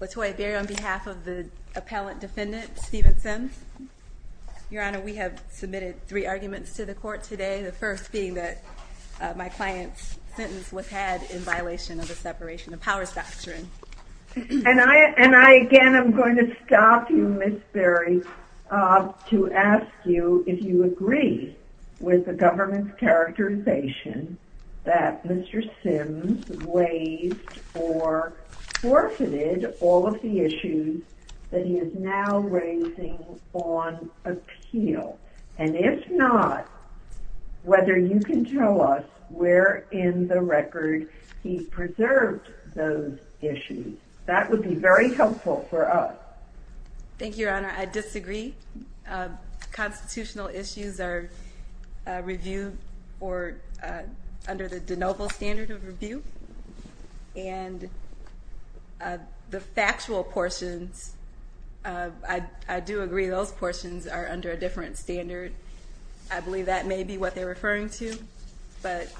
Latoya Berry on behalf of the appellant defendant Steven Syms. Your Honor, we have submitted three arguments to the court today. The first being that my client's sentence was had in violation of the separation of powers doctrine. And I again am going to stop you Ms. Berry to ask you if you agree with the government's characterization that Mr. Syms waived or forfeited all of the issues that he is now raising on appeal. And if not, whether you can tell us where in the record he preserved those issues. That would be very helpful for us. Thank you, Your Honor. I disagree. Constitutional issues are reviewed under the de novo standard of review. And the factual portions, I do agree those portions are under a different standard. I believe that may be what they're referring to, but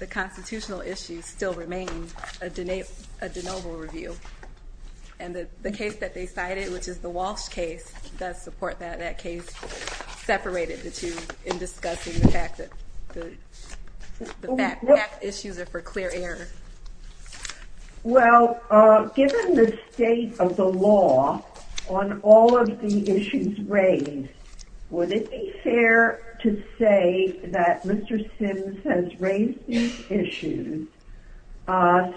the constitutional issues still remain a de novo review. And the case that they cited, which is the Walsh case, does support that. That case separated the two in discussing the fact that issues are for clear air. Well, given the state of the law on all of the issues raised, would it be fair to say that Mr. Syms has raised these issues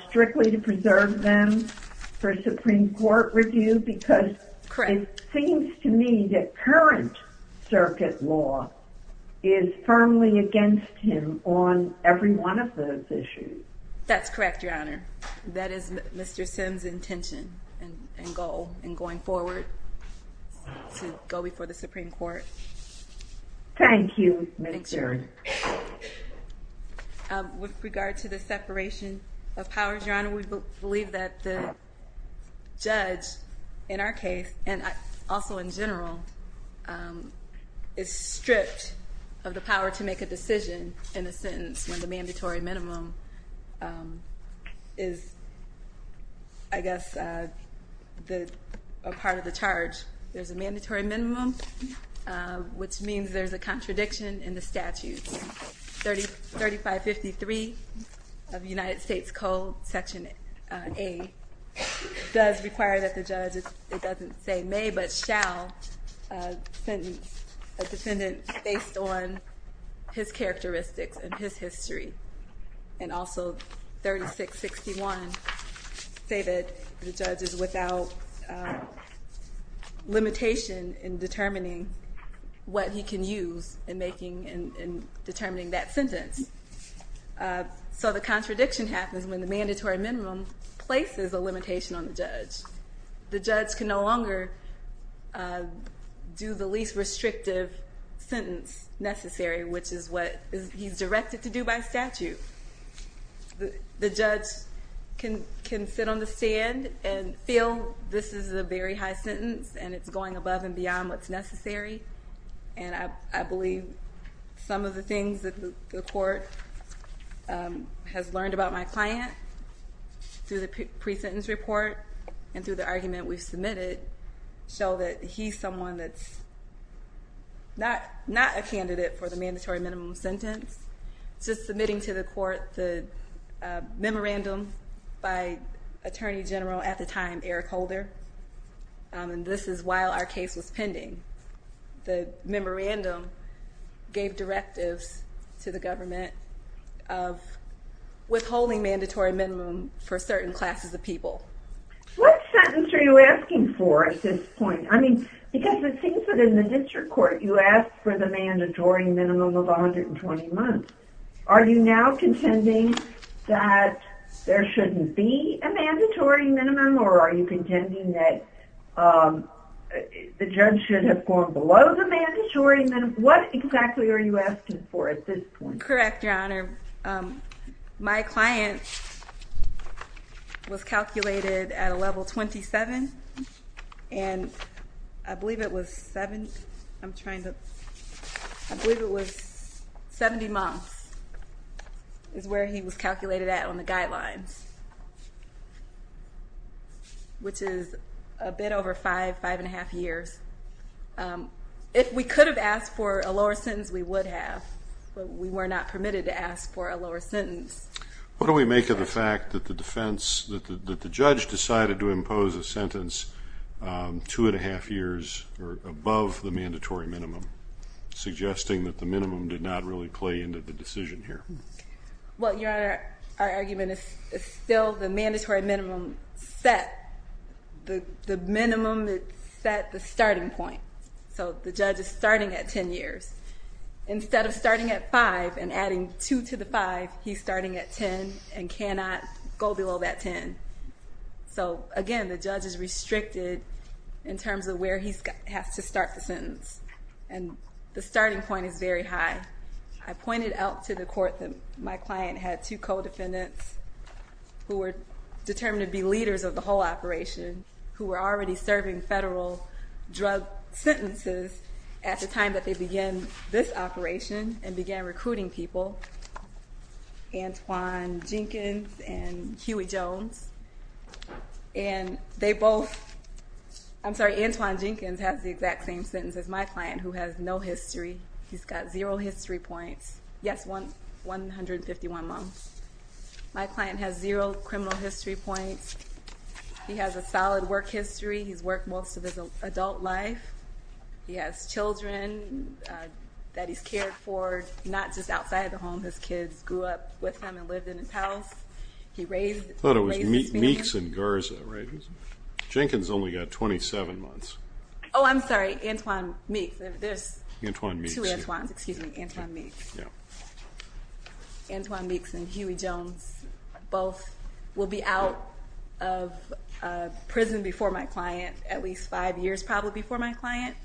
strictly to preserve them for Supreme Court review? Because it seems to me that current circuit law is firmly against him on every one of those issues. That's correct, Your Honor. That is Mr. Syms' intention and goal in going forward to go before the Supreme Court. Thank you, Ms. Jones. With regard to the separation of powers, Your Honor, we believe that the judge in our case, and also in general, is stripped of the power to make a decision in a sentence when the mandatory minimum is, I guess, a part of the charge. There's a mandatory minimum, which means there's a contradiction in the statutes. 3553 of the United States Code, Section A, does require that the judge, it doesn't say may, but shall, sentence a defendant based on his characteristics and his history. And also 3661 say that the judge is without limitation in determining what he can use in determining that sentence. So the contradiction happens when the mandatory minimum places a limitation on the judge. The judge can no longer do the least restrictive sentence necessary, which is what he's directed to do by statute. The judge can sit on the stand and feel this is a very high sentence and it's going above and beyond what's necessary. And I believe some of the things that the court has learned about my client through the pre-sentence report and through the argument we've submitted show that he's someone that's not a candidate for the mandatory minimum sentence. Just submitting to the court the memorandum by Attorney General at the time, Eric Holder, and this is while our case was pending. The memorandum gave directives to the government of withholding mandatory minimum for certain classes of people. What sentence are you asking for at this point? I mean, because it seems that in the district court you ask for the mandatory minimum of 120 months. Are you now contending that there shouldn't be a mandatory minimum or are you contending that the judge should have gone below the mandatory minimum? What exactly are you asking for at this point? You're correct, Your Honor. My client was calculated at a level 27 and I believe it was 70 months is where he was calculated at on the guidelines, which is a bit over five, five and a half years. If we could have asked for a lower sentence, we would have, but we were not permitted to ask for a lower sentence. What do we make of the fact that the defense, that the judge decided to impose a sentence two and a half years or above the mandatory minimum, suggesting that the minimum did not really play into the decision here? Well, Your Honor, our argument is still the mandatory minimum set the minimum that set the starting point. So the judge is starting at 10 years. Instead of starting at five and adding two to the five, he's starting at 10 and cannot go below that 10. So again, the judge is restricted in terms of where he has to start the sentence and the starting point is very high. I pointed out to the court that my client had two co-defendants who were determined to be leaders of the whole operation, who were already serving federal drug sentences at the time that they began this operation and began recruiting people. Antoine Jenkins and Huey Jones. And they both, I'm sorry, Antoine Jenkins has the exact same sentence as my client who has no history. He's got zero history points. Yes, 151 months. My client has zero criminal history points. He has a solid work history. He's worked most of his adult life. He has children that he's cared for, not just outside the home. His kids grew up with him and lived in his house. He raised his family. I thought it was Meeks and Garza, right? Jenkins only got 27 months. Oh, I'm sorry, Antoine Meeks. There's two Antoines. Excuse me, Antoine Meeks. Antoine Meeks and Huey Jones both will be out of prison before my client, at least five years probably before my client.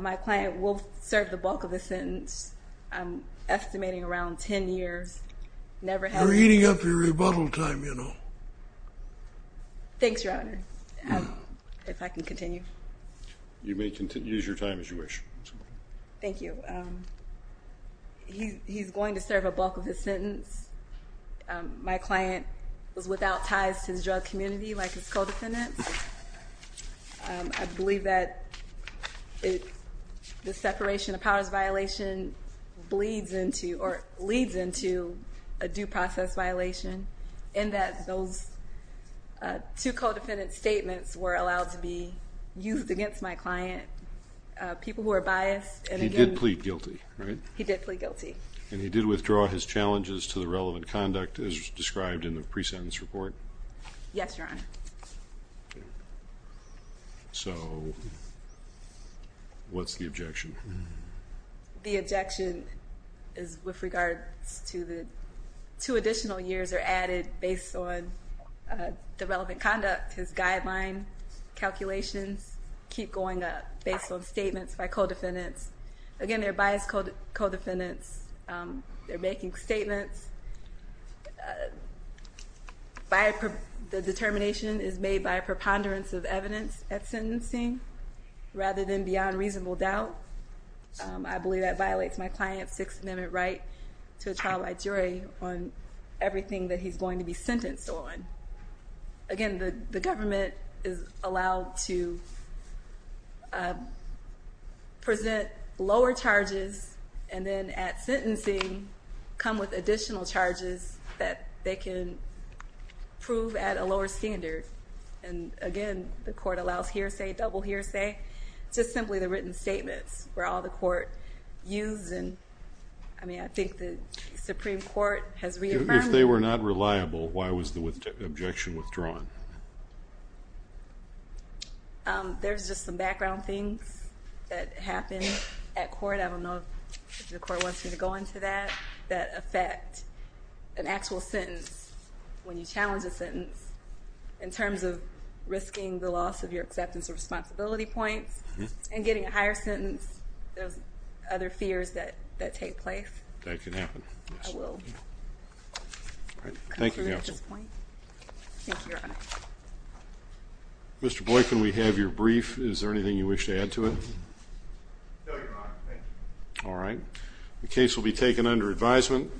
My client will serve the bulk of the sentence, I'm estimating around 10 years. You're eating up your rebuttal time, you know. Thanks, Your Honor. If I can continue. You may use your time as you wish. Thank you. He's going to serve a bulk of his sentence. My client was without ties to his drug community like his co-defendants. I believe that the separation of powers violation leads into a due process violation in that those two co-defendant statements were allowed to be used against my client, people who are biased. He did plead guilty, right? He did plead guilty. And he did withdraw his challenges to the relevant conduct as described in the pre-sentence report? Yes, Your Honor. So, what's the objection? The objection is with regards to the two additional years are added based on the relevant conduct, his guideline calculations keep going up based on statements by co-defendants. Again, they're biased co-defendants, they're making statements, the determination is made by a preponderance of evidence at sentencing rather than beyond reasonable doubt. I believe that violates my client's Sixth Amendment right to a trial by jury on everything that he's going to be sentenced on. Again, the government is allowed to present lower charges and then at sentencing come with additional charges that they can prove at a lower standard. And again, the court allows hearsay, double hearsay, just simply the written statements where all the court used. I mean, I think the Supreme Court has reaffirmed. If they were not reliable, why was the objection withdrawn? There's just some background things that happened at court. I don't know if the court wants me to go into that, that affect an actual sentence when you challenge a sentence in terms of risking the loss of your acceptance of responsibility points and getting a higher sentence. There's other fears that take place. That can happen. All right. Thank you. Mr. Boykin, we have your brief. Is there anything you wish to add to it? All right. The case will be taken under advisement.